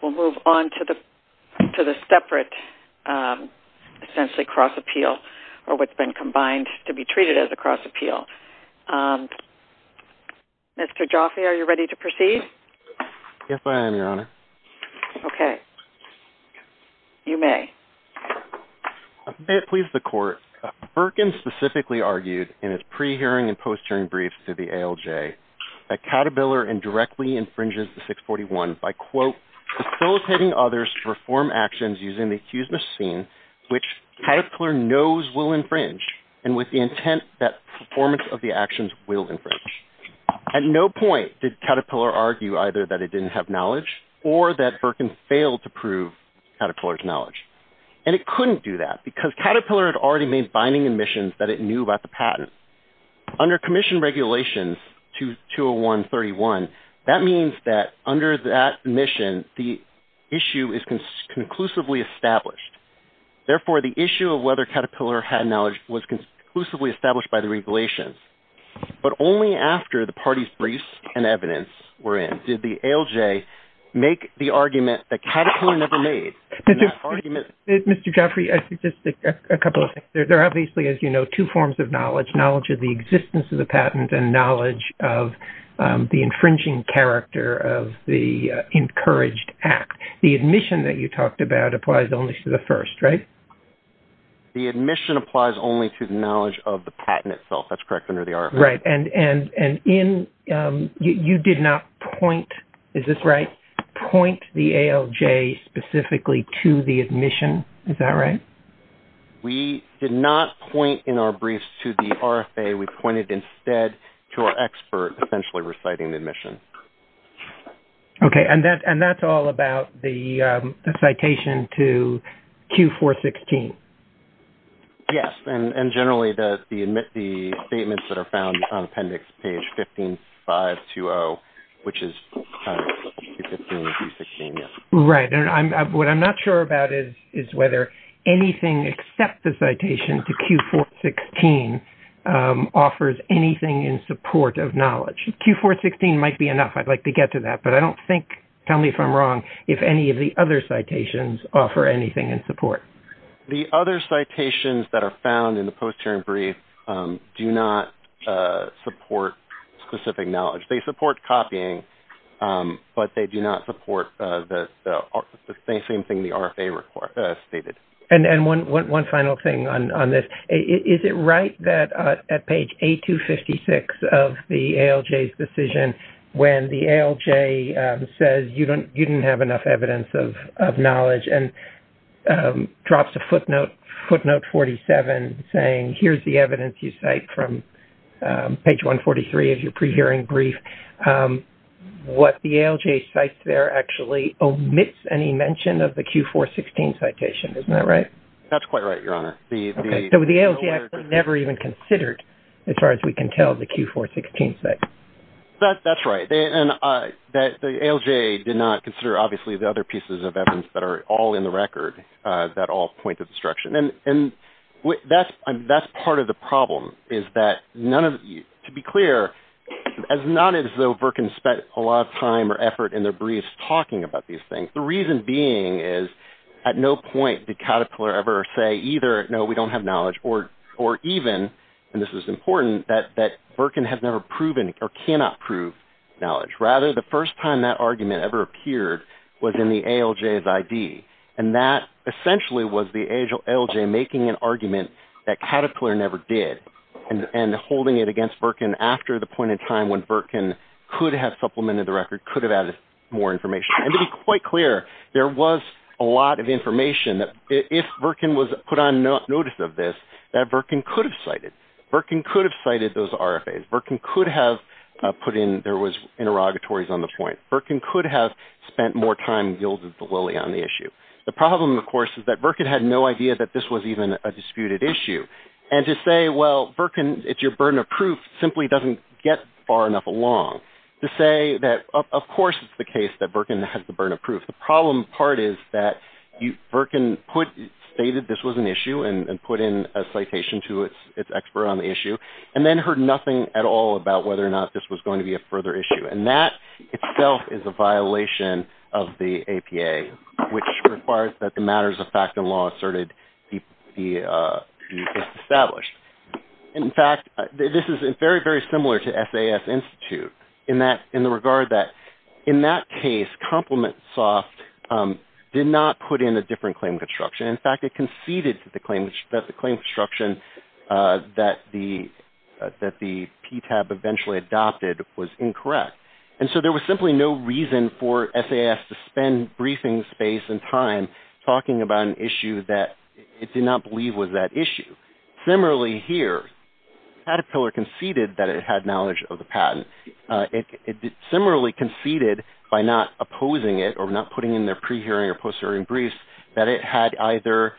We'll move on to the separate, essentially cross-appeal, or what's been combined to be treated as a cross-appeal. Mr. Jaffe, are you ready to proceed? Yes, I am, Your Honor. Okay. You may. May it please the Court, Birtgen specifically argued, in his pre-hearing and post-hearing briefs to the ALJ, that Caterpillar indirectly infringes the 641 by, quote, facilitating others to perform actions using the accused machine, which Caterpillar knows will infringe, and with the intent that performance of the actions will infringe. At no point did Caterpillar argue either that it didn't have knowledge, or that Birtgen failed to prove Caterpillar's knowledge. And it couldn't do that, because Caterpillar had already made binding admissions that it knew about the patent. Under Commission Regulations 201-31, that means that under that mission, the issue is conclusively established. Therefore, the issue of whether Caterpillar had knowledge was conclusively established by the regulations. But only after the parties' briefs and evidence were in did the ALJ make the argument that Caterpillar never made. Mr. Jaffe, just a couple of things. There are obviously, as you know, two forms of knowledge. Knowledge of the existence of the patent and knowledge of the infringing character of the encouraged act. The admission that you talked about applies only to the first, right? The admission applies only to the knowledge of the patent itself. That's correct under the RFA. Right. And you did not point, is this right, point the ALJ specifically to the admission? Is that right? We did not point in our briefs to the RFA. We pointed instead to our expert essentially reciting the admission. Okay. And that's all about the citation to Q4-16? Yes. And generally the statements that are found on appendix page 15-520, which is Q15 and Q16, yes. Right. And what I'm not sure about is whether anything except the citation to Q4-16 offers anything in support of knowledge. Q4-16 might be enough. I'd like to get to that, but I don't think, tell me if I'm wrong, if any of the other citations offer anything in support. The other citations that are found in the post-hearing brief do not support specific knowledge. They support copying, but they do not support the same thing the RFA stated. And one final thing on this. Is it right that at page A256 of the ALJ's decision, when the ALJ says you didn't have enough evidence of knowledge and drops a footnote, footnote 47, saying here's the evidence you cite from page 143 of your pre-hearing brief, what the ALJ cites there actually omits any mention of the Q4-16 citation. Isn't that right? That's quite right, Your Honor. Okay. So the ALJ actually never even considered, as far as we can tell, the Q4-16 citation. That's right. And the ALJ did not consider, obviously, the other pieces of evidence that are all in the record that all point to this direction. And that's part of the problem is that, to be clear, it's not as though Virkin spent a lot of time or effort in their briefs talking about these things. The reason being is at no point did Caterpillar ever say either, no, we don't have knowledge, or even, and this is important, that Virkin has never proven or cannot prove knowledge. Rather, the first time that argument ever appeared was in the ALJ's ID. And that essentially was the ALJ making an argument that Caterpillar never did and holding it against Virkin after the point in time when Virkin could have supplemented the record, could have added more information. And to be quite clear, there was a lot of information that, if Virkin was put on notice of this, that Virkin could have cited. Virkin could have cited those RFAs. Virkin could have put in there was interrogatories on the point. Virkin could have spent more time, yielded the lily on the issue. The problem, of course, is that Virkin had no idea that this was even a disputed issue. And to say, well, Virkin, it's your burden of proof simply doesn't get far enough along. To say that, of course, it's the case that Virkin has the burden of proof. The problem part is that Virkin stated this was an issue and put in a citation to its expert on the issue and then heard nothing at all about whether or not this was going to be a further issue. And that itself is a violation of the APA, which requires that the matters of fact and law asserted be established. In fact, this is very, very similar to SAS Institute in the regard that, in that case, ComplimentSoft did not put in a different claim construction. And so there was simply no reason for SAS to spend briefing space and time talking about an issue that it did not believe was that issue. Similarly here, Caterpillar conceded that it had knowledge of the patent. It similarly conceded by not opposing it or not putting in their pre-hearing or post-hearing briefs that it had either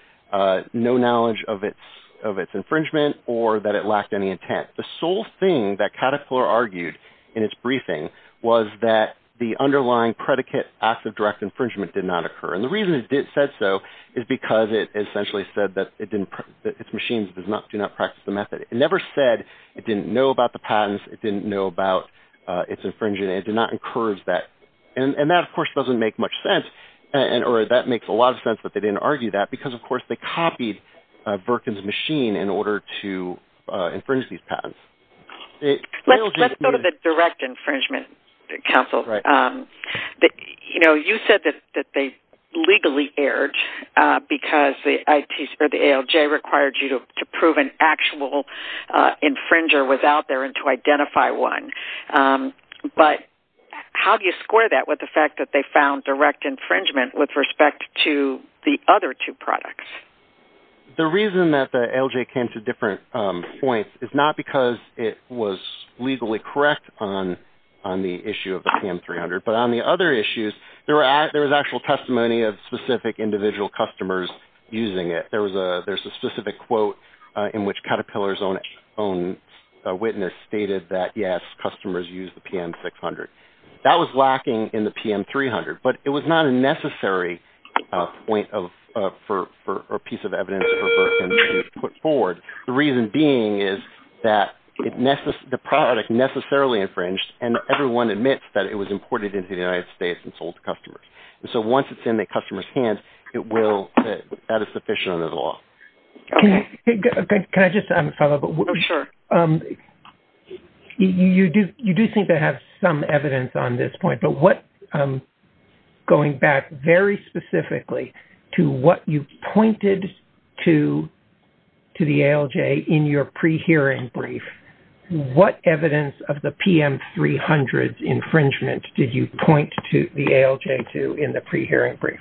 no knowledge of its infringement or that it lacked any intent. In fact, the sole thing that Caterpillar argued in its briefing was that the underlying predicate, acts of direct infringement, did not occur. And the reason it said so is because it essentially said that its machines do not practice the method. It never said it didn't know about the patents. It didn't know about its infringement. It did not encourage that. And that, of course, doesn't make much sense. Or that makes a lot of sense that they didn't argue that because, of course, they copied Birkin's machine in order to infringe these patents. Let's go to the direct infringement counsel. You said that they legally erred because the ALJ required you to prove an actual infringer was out there and to identify one. But how do you square that with the fact that they found direct infringement with respect to the other two products? The reason that the ALJ came to different points is not because it was legally correct on the issue of the PAM 300, but on the other issues, there was actual testimony of specific individual customers using it. There's a specific quote in which Caterpillar's own witness stated that, yes, customers use the PAM 600. That was lacking in the PAM 300, but it was not a necessary point or piece of evidence for Birkin to put forward. The reason being is that the product necessarily infringed, and everyone admits that it was imported into the United States and sold to customers. Once it's in the customer's hands, that is sufficient under the law. Can I just follow up? Sure. You do seem to have some evidence on this point, but going back very specifically to what you pointed to the ALJ in your pre-hearing brief, what evidence of the PAM 300's infringement did you point to the ALJ to in the pre-hearing brief?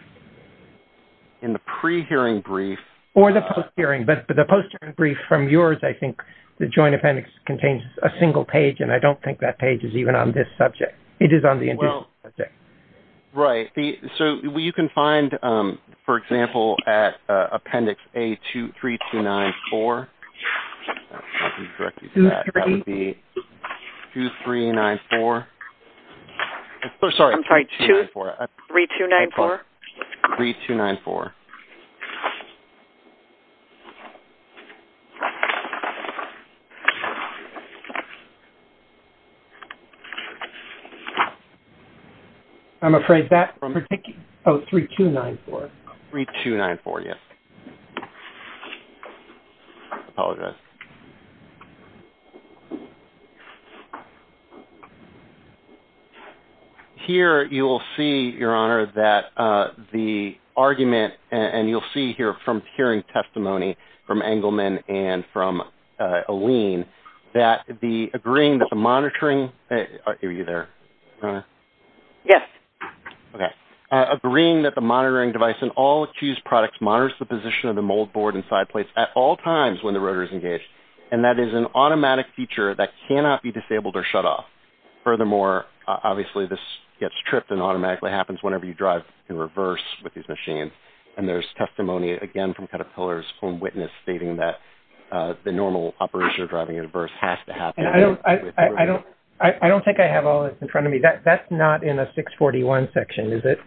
In the pre-hearing brief? Or the post-hearing. But the post-hearing brief from yours, I think the joint appendix contains a single page, and I don't think that page is even on this subject. It is on the individual subject. Right. You can find, for example, at appendix A23294. I'm not going to direct you to that. That would be 2394. I'm sorry. I'm sorry. 23294? 3294. I'm afraid that particular – oh, 3294. 3294, yes. I apologize. Here you will see, Your Honor, that the argument, and you'll see here from hearing testimony from Engelman and from Alene, that agreeing that the monitoring – are you there, Your Honor? Yes. Okay. Agreeing that the monitoring device in all accused products monitors the position of the moldboard and side plates at all times when the rotor is engaged, and that is an automatic feature that cannot be disabled or shut off. Furthermore, obviously, this gets tripped and automatically happens whenever you drive in reverse with these machines. And there's testimony, again, from Caterpillar's own witness, stating that the normal operation of driving in reverse has to happen. I don't think I have all this in front of me. That's not in the 641 section, is it?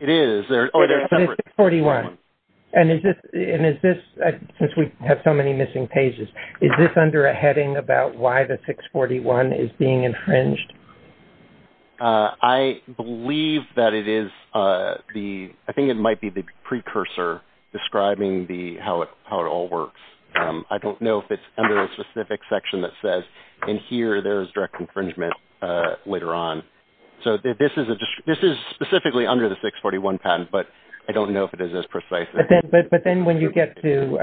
It is. The 641. And is this – since we have so many missing pages, is this under a heading about why the 641 is being infringed? I believe that it is the – I think it might be the precursor describing how it all works. I don't know if it's under a specific section that says, in here there is direct infringement later on. So this is specifically under the 641 patent, but I don't know if it is as precise. But then when you get to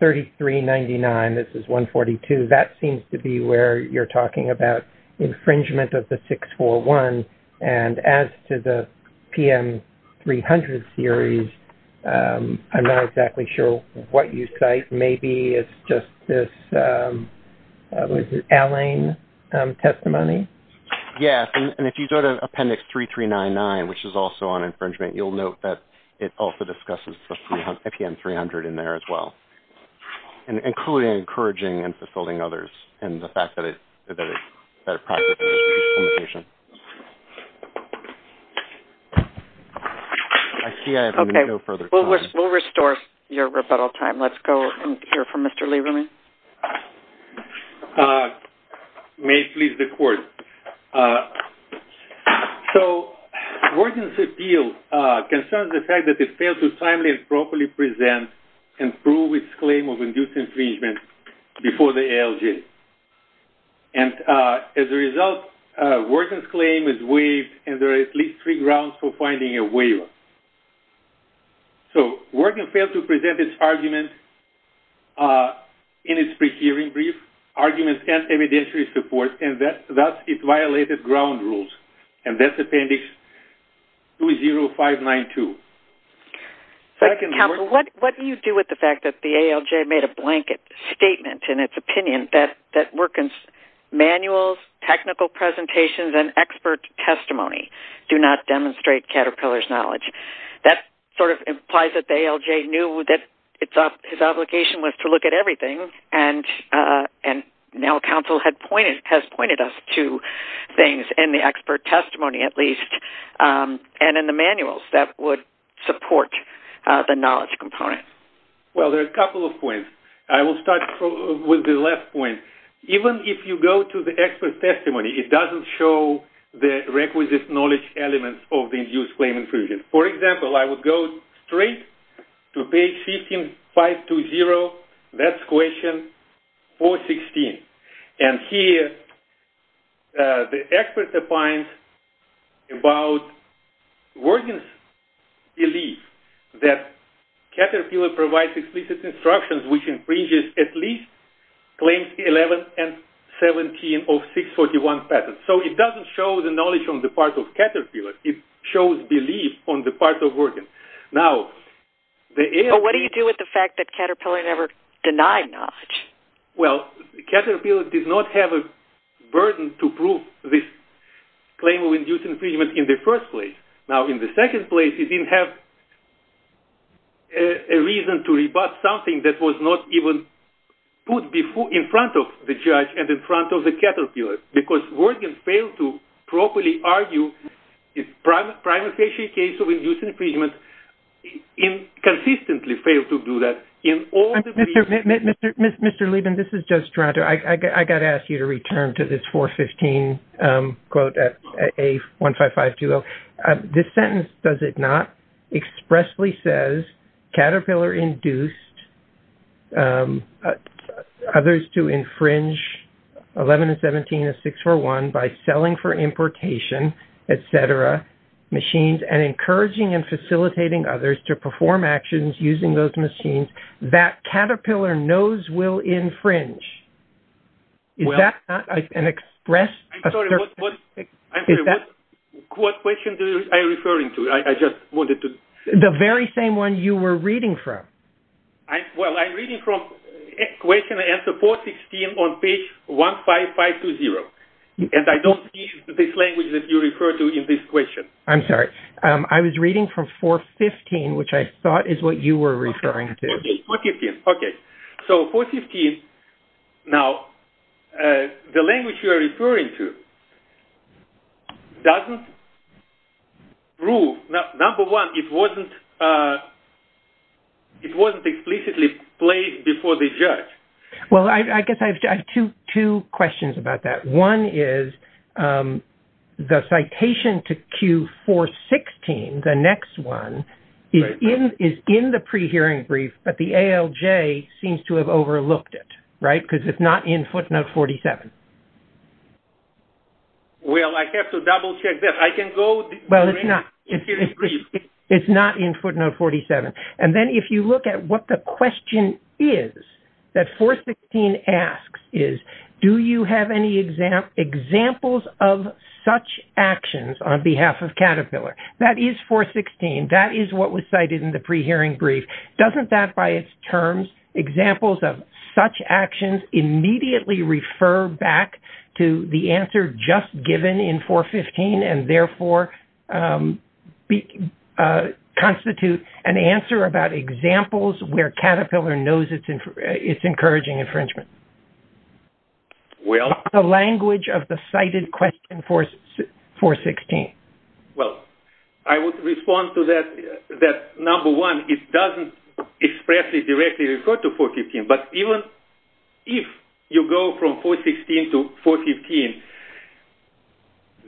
3399, this is 142, that seems to be where you're talking about infringement of the 641. And as to the PM300 series, I'm not exactly sure what you cite. Maybe it's just this Allain testimony? Yes. And if you go to Appendix 3399, which is also on infringement, you'll note that it also discusses the PM300 in there as well, including encouraging and fulfilling others and the fact that it – that it – Okay. We'll restore your rebuttal time. Let's go and hear from Mr. Lieberman. Thank you. May it please the Court. So, Worgen's appeal concerns the fact that it failed to timely and properly present and prove its claim of induced infringement before the ALJ. And as a result, Worgen's claim is waived, So, Worgen failed to present its argument in its pre-hearing brief, arguments and evidentiary support, and thus it violated ground rules. And that's Appendix 20592. Counsel, what do you do with the fact that the ALJ made a blanket statement in its opinion that Worgen's manuals, technical presentations, and expert testimony do not demonstrate Caterpillar's knowledge? That sort of implies that the ALJ knew that its obligation was to look at everything, and now counsel has pointed us to things in the expert testimony, at least, and in the manuals that would support the knowledge component. Well, there are a couple of points. I will start with the last point. Even if you go to the expert testimony, it doesn't show the requisite knowledge elements of the induced claim infringement. For example, I would go straight to page 15520, that's question 416. And here, the expert opines about Worgen's belief that Caterpillar provides explicit instructions which infringes at least claims 11 and 17 of 641 patents. So it doesn't show the knowledge on the part of Caterpillar. It shows belief on the part of Worgen. What do you do with the fact that Caterpillar never denied knowledge? Well, Caterpillar did not have a burden to prove this claim of induced infringement in the first place. Now, in the second place, it didn't have a reason to rebut something that was not even put in front of the judge and in front of the Caterpillar, because Worgen failed to properly argue the primary case of induced infringement and consistently failed to do that in all the briefs. Mr. Liebman, this is Joe Strato. I've got to ask you to return to this 415 quote at A15520. This sentence, does it not, expressly says Caterpillar induced others to infringe 11 and 17 of 641 by selling for importation, et cetera, machines and encouraging and facilitating others to perform actions using those machines. That Caterpillar knows will infringe. Is that not an expressed assertion? I'm sorry, what question are you referring to? I just wanted to... The very same one you were reading from. Well, I'm reading from question answer 416 on page 15520. And I don't see this language that you refer to in this question. I'm sorry. I was reading from 415, which I thought is what you were referring to. 415. Okay. So, 415. Now, the language you are referring to doesn't prove... Number one, it wasn't explicitly placed before the judge. Well, I guess I have two questions about that. One is, the citation to Q416, the next one, is in the pre-hearing brief, but the ALJ seems to have overlooked it, right? Because it's not in footnote 47. Well, I have to double check that. I can go... Well, it's not. It's not in footnote 47. And then if you look at what the question is that 416 asks is, do you have any examples of such actions on behalf of Caterpillar? That is 416. That is what was cited in the pre-hearing brief. Doesn't that, by its terms, examples of such actions, immediately refer back to the answer just given in 415 and therefore constitute an answer about examples where Caterpillar knows it's encouraging infringement? Well... The language of the cited question, 416. Well, I would respond to that. Number one, it doesn't expressly, directly refer to 415, but even if you go from 416 to 415,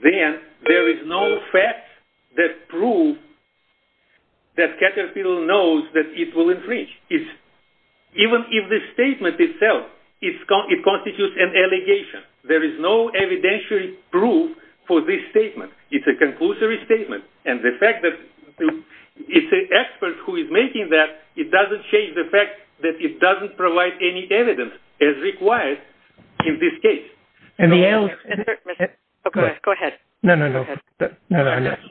then there is no fact that proves that Caterpillar knows that it will infringe. Even if the statement itself constitutes an allegation, there is no evidentiary proof for this statement. It's a conclusory statement. And the fact that it's an expert who is making that, it doesn't change the fact that it doesn't provide any evidence as required in this case. Go ahead. No, no, no.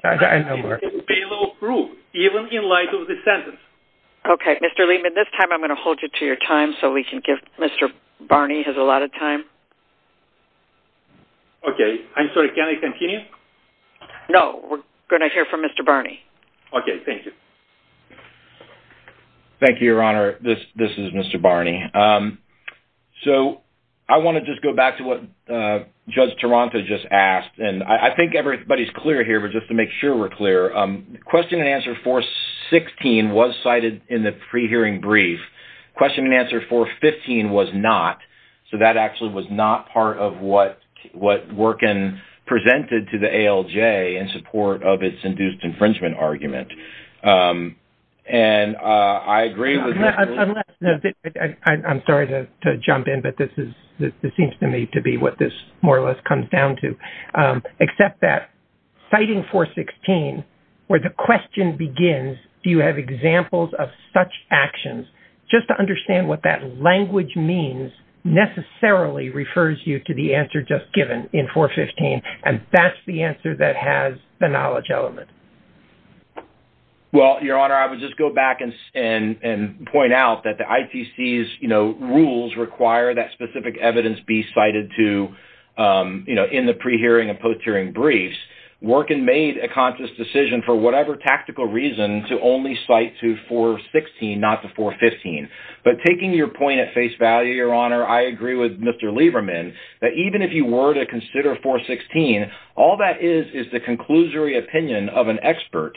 I know more. It's a bailout proof, even in light of the sentence. Okay, Mr. Lehman, this time I'm going to hold you to your time so we can give... Mr. Barney has a lot of time. Okay. I'm sorry, can I continue? No, we're going to hear from Mr. Barney. Okay, thank you. Thank you, Your Honor. This is Mr. Barney. So, I want to just go back to what Judge Taranto just asked, and I think everybody's clear here, but just to make sure we're clear, question and answer 416 was cited in the pre-hearing brief. Question and answer 415 was not, so that actually was not part of what Workin presented to the ALJ in support of its induced infringement argument. And I agree with... I'm sorry to jump in, but this seems to me to be what this more or less comes down to, except that citing 416, where the question begins, do you have examples of such actions, just to understand what that language means necessarily refers you to the answer just given in 415, and that's the answer that has the knowledge element. Well, Your Honor, I would just go back and point out that the ITC's rules require that specific evidence be cited in the pre-hearing and post-hearing briefs. Workin made a conscious decision for whatever tactical reason to only cite to 416, not to 415. But taking your point at face value, Your Honor, I agree with Mr. Lieberman, that even if you were to consider 416, all that is is the conclusory opinion of an expert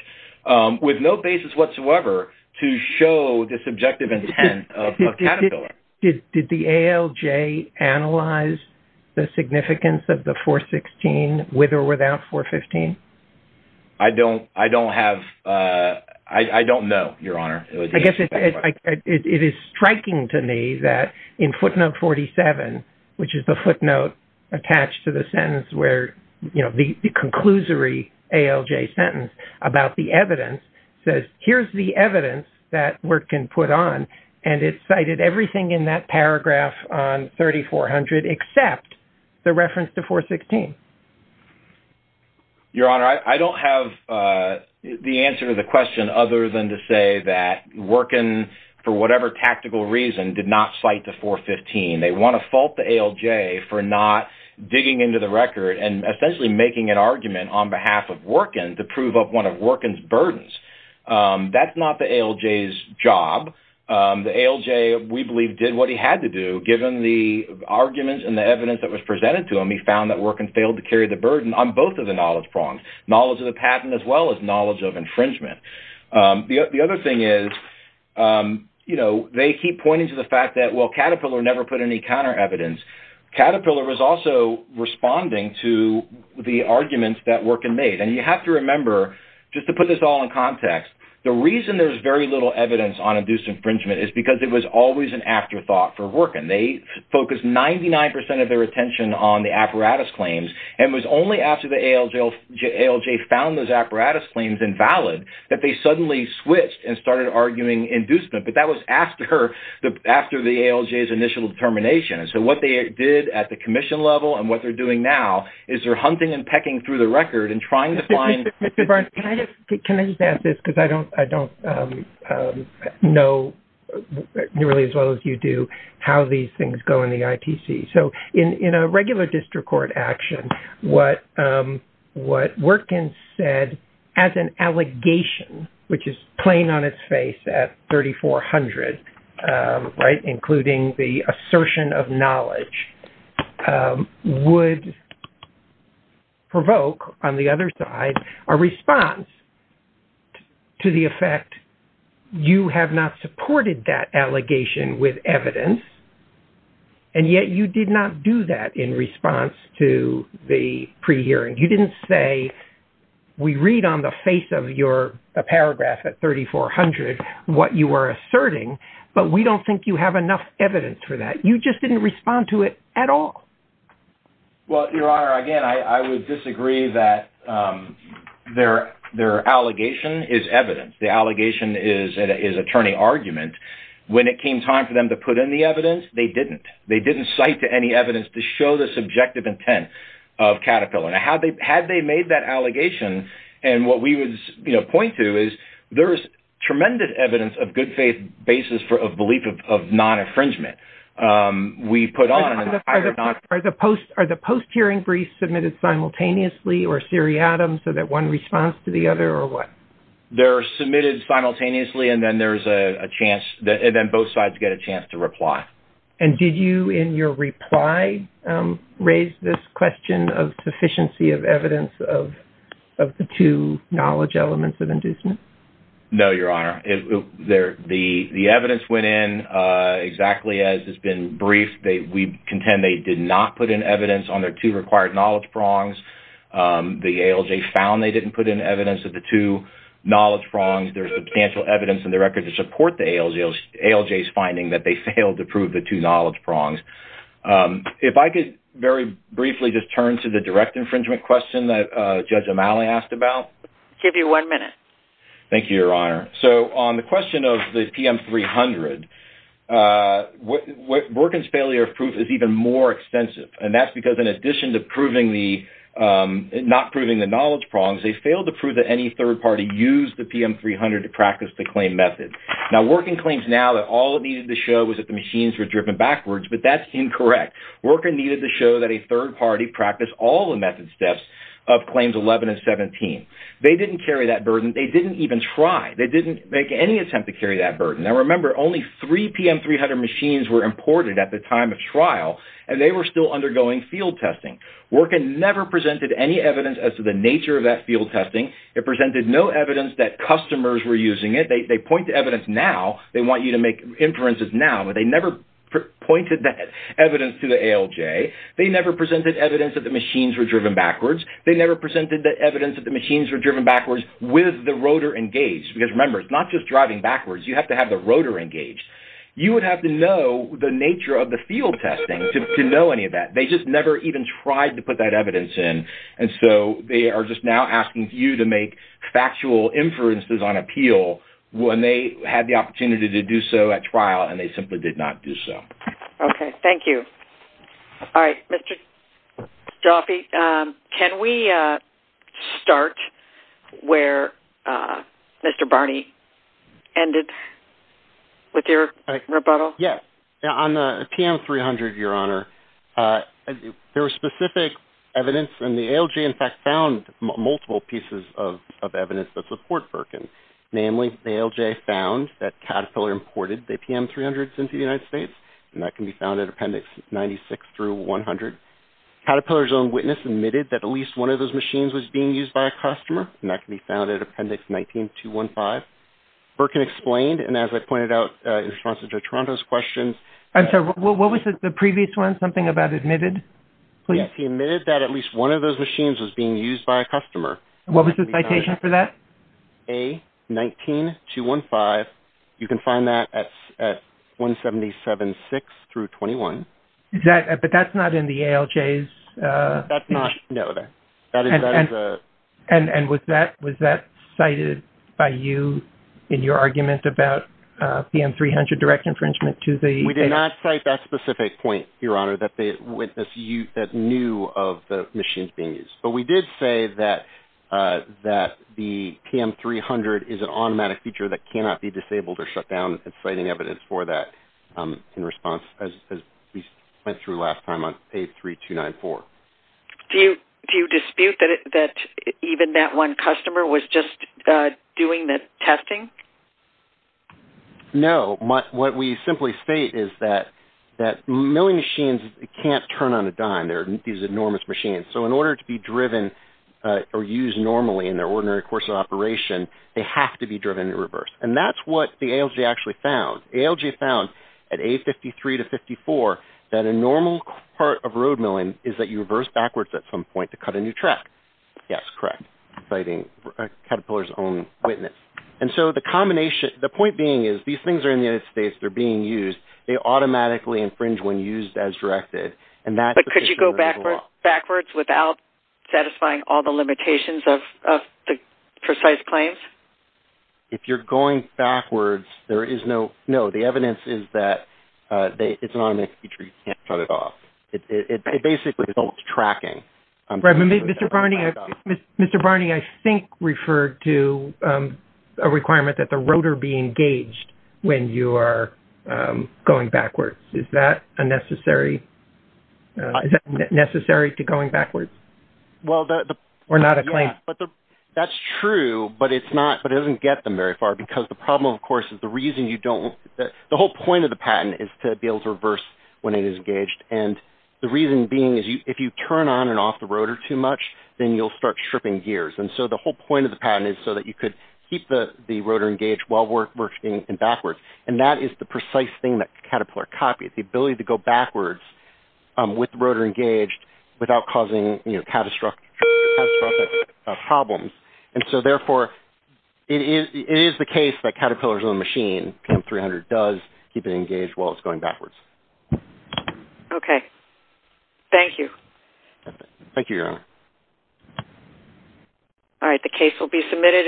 with no basis whatsoever to show the subjective intent of Caterpillar. Did the ALJ analyze the significance of the 416 with or without 415? I don't have... I don't know, Your Honor. I guess it is striking to me that in footnote 47, which is the footnote attached to the sentence where, you know, the conclusory ALJ sentence about the evidence, says, here's the evidence that Workin put on, and it cited everything in that paragraph on 3400 except the reference to 416. Your Honor, I don't have the answer to the question other than to say that Workin, for whatever tactical reason, did not cite to 415. They want to fault the ALJ for not digging into the record and essentially making an argument on behalf of Workin to prove up one of Workin's burdens. That's not the ALJ's job. The ALJ, we believe, did what he had to do, given the arguments and the evidence that was presented to him. He found that Workin failed to carry the burden on both of the knowledge prongs, knowledge of the patent as well as knowledge of infringement. The other thing is, you know, they keep pointing to the fact that, well, Caterpillar never put any counter evidence. Caterpillar was also responding to the arguments that Workin made. And you have to remember, just to put this all in context, the reason there's very little evidence on induced infringement is because it was always an afterthought for Workin. They focused 99% of their attention on the apparatus claims and it was only after the ALJ found those apparatus claims invalid that they suddenly switched and started arguing inducement. But that was after the ALJ's initial determination. And so what they did at the commission level and what they're doing now is they're hunting and pecking through the record and trying to find... Mr. Barnes, can I just add this? Because I don't know nearly as well as you do how these things go in the ITC. So in a regular district court action, what Workin said as an allegation, which is plain on its face at 3,400, right, including the assertion of knowledge, would provoke, on the other side, a response to the effect, you have not supported that allegation with evidence and yet you did not do that in response to the pre-hearing. You didn't say, we read on the face of your paragraph at 3,400 what you were asserting, but we don't think you have enough evidence for that. You just didn't respond to it at all. Well, Your Honor, again, I would disagree that their allegation is evidence. The allegation is attorney argument. When it came time for them to put in the evidence, they didn't. They didn't cite any evidence to show the subjective intent of Caterpillar. Had they made that allegation, and what we would point to is there is tremendous evidence of good faith basis of belief of non-infringement. Are the post-hearing briefs submitted simultaneously or seriatim so that one responds to the other or what? They're submitted simultaneously, and then both sides get a chance to reply. And did you in your reply raise this question of sufficiency of evidence of the two knowledge elements of inducement? No, Your Honor. The evidence went in exactly as has been briefed. We contend they did not put in evidence on their two required knowledge prongs. The ALJ found they didn't put in evidence of the two knowledge prongs. There's substantial evidence in the record to support the ALJ's finding that they failed to prove the two knowledge prongs. If I could very briefly just turn to the direct infringement question that Judge O'Malley asked about. I'll give you one minute. Thank you, Your Honor. So on the question of the PM-300, Borkin's failure of proof is even more extensive, and that's because in addition to not proving the knowledge prongs, they failed to prove that any third party used the PM-300 to practice the claim method. Now, Borkin claims now that all it needed to show was that the machines were driven backwards, but that's incorrect. Borkin needed to show that a third party practiced all the method steps of Claims 11 and 17. They didn't carry that burden. They didn't even try. They didn't make any attempt to carry that burden. Now, remember, only three PM-300 machines were imported at the time of trial, and they were still undergoing field testing. Borkin never presented any evidence as to the nature of that field testing. It presented no evidence that customers were using it. They point to evidence now. They want you to make inferences now, but they never pointed that evidence to the ALJ. They never presented evidence that the machines were driven backwards. They never presented evidence that the machines were driven backwards with the rotor engaged, because, remember, it's not just driving backwards. You have to have the rotor engaged. You would have to know the nature of the field testing to know any of that. They just never even tried to put that evidence in, and so they are just now asking you to make factual inferences on appeal when they had the opportunity to do so at trial and they simply did not do so. Okay. Thank you. All right. Mr. Jaffe, can we start where Mr. Barney ended with your rebuttal? Yes. On the PM-300, Your Honor, there was specific evidence, and the ALJ, in fact, found multiple pieces of evidence that support Borkin. Namely, the ALJ found that Caterpillar imported the PM-300s into the United States, and that can be found in Appendix 96 through 100. Caterpillar's own witness admitted that at least one of those machines was being used by a customer, and that can be found in Appendix 19-215. Borkin explained, and as I pointed out in response to Toronto's question. I'm sorry. What was the previous one? Something about admitted? Yes. He admitted that at least one of those machines was being used by a customer. What was the citation for that? A-19-215. You can find that at 177-6 through 21. But that's not in the ALJ's? That's not. No. And was that cited by you in your argument about PM-300 direct infringement to the ALJ? We did not cite that specific point, Your Honor, that they knew of the machines being used. But we did say that the PM-300 is an automatic feature that cannot be disabled or shut down, and citing evidence for that in response, as we went through last time on page 3294. Do you dispute that even that one customer was just doing the testing? No. What we simply state is that milling machines can't turn on a dime. They're these enormous machines. So in order to be driven or used normally in their ordinary course of operation, they have to be driven in reverse. And that's what the ALJ actually found. ALJ found at A-53 to 54 that a normal part of road milling is that you reverse backwards at some point to cut a new track. Yes, correct, citing Caterpillar's own witness. And so the point being is these things are in the United States. They're being used. They automatically infringe when used as directed. But could you go backwards without satisfying all the limitations of the precise claims? If you're going backwards, there is no – no, the evidence is that it's an automatic feature. You can't shut it off. It basically results tracking. Mr. Barney, I think referred to a requirement that the rotor be engaged when you are going backwards. Is that a necessary – is that necessary to going backwards or not a claim? That's true, but it's not – but it doesn't get them very far because the problem, of course, is the reason you don't – the whole point of the patent is to be able to reverse when it is engaged. And the reason being is if you turn on and off the rotor too much, then you'll start stripping gears. And so the whole point of the patent is so that you could keep the rotor engaged while working backwards. And that is the precise thing that Caterpillar copied, the ability to go backwards with the rotor engaged without causing catastrophic problems. And so, therefore, it is the case that Caterpillar's own machine, PIM-300, does keep it engaged while it's going backwards. Okay. Thank you. Thank you, Your Honor. All right, the case will be submitted.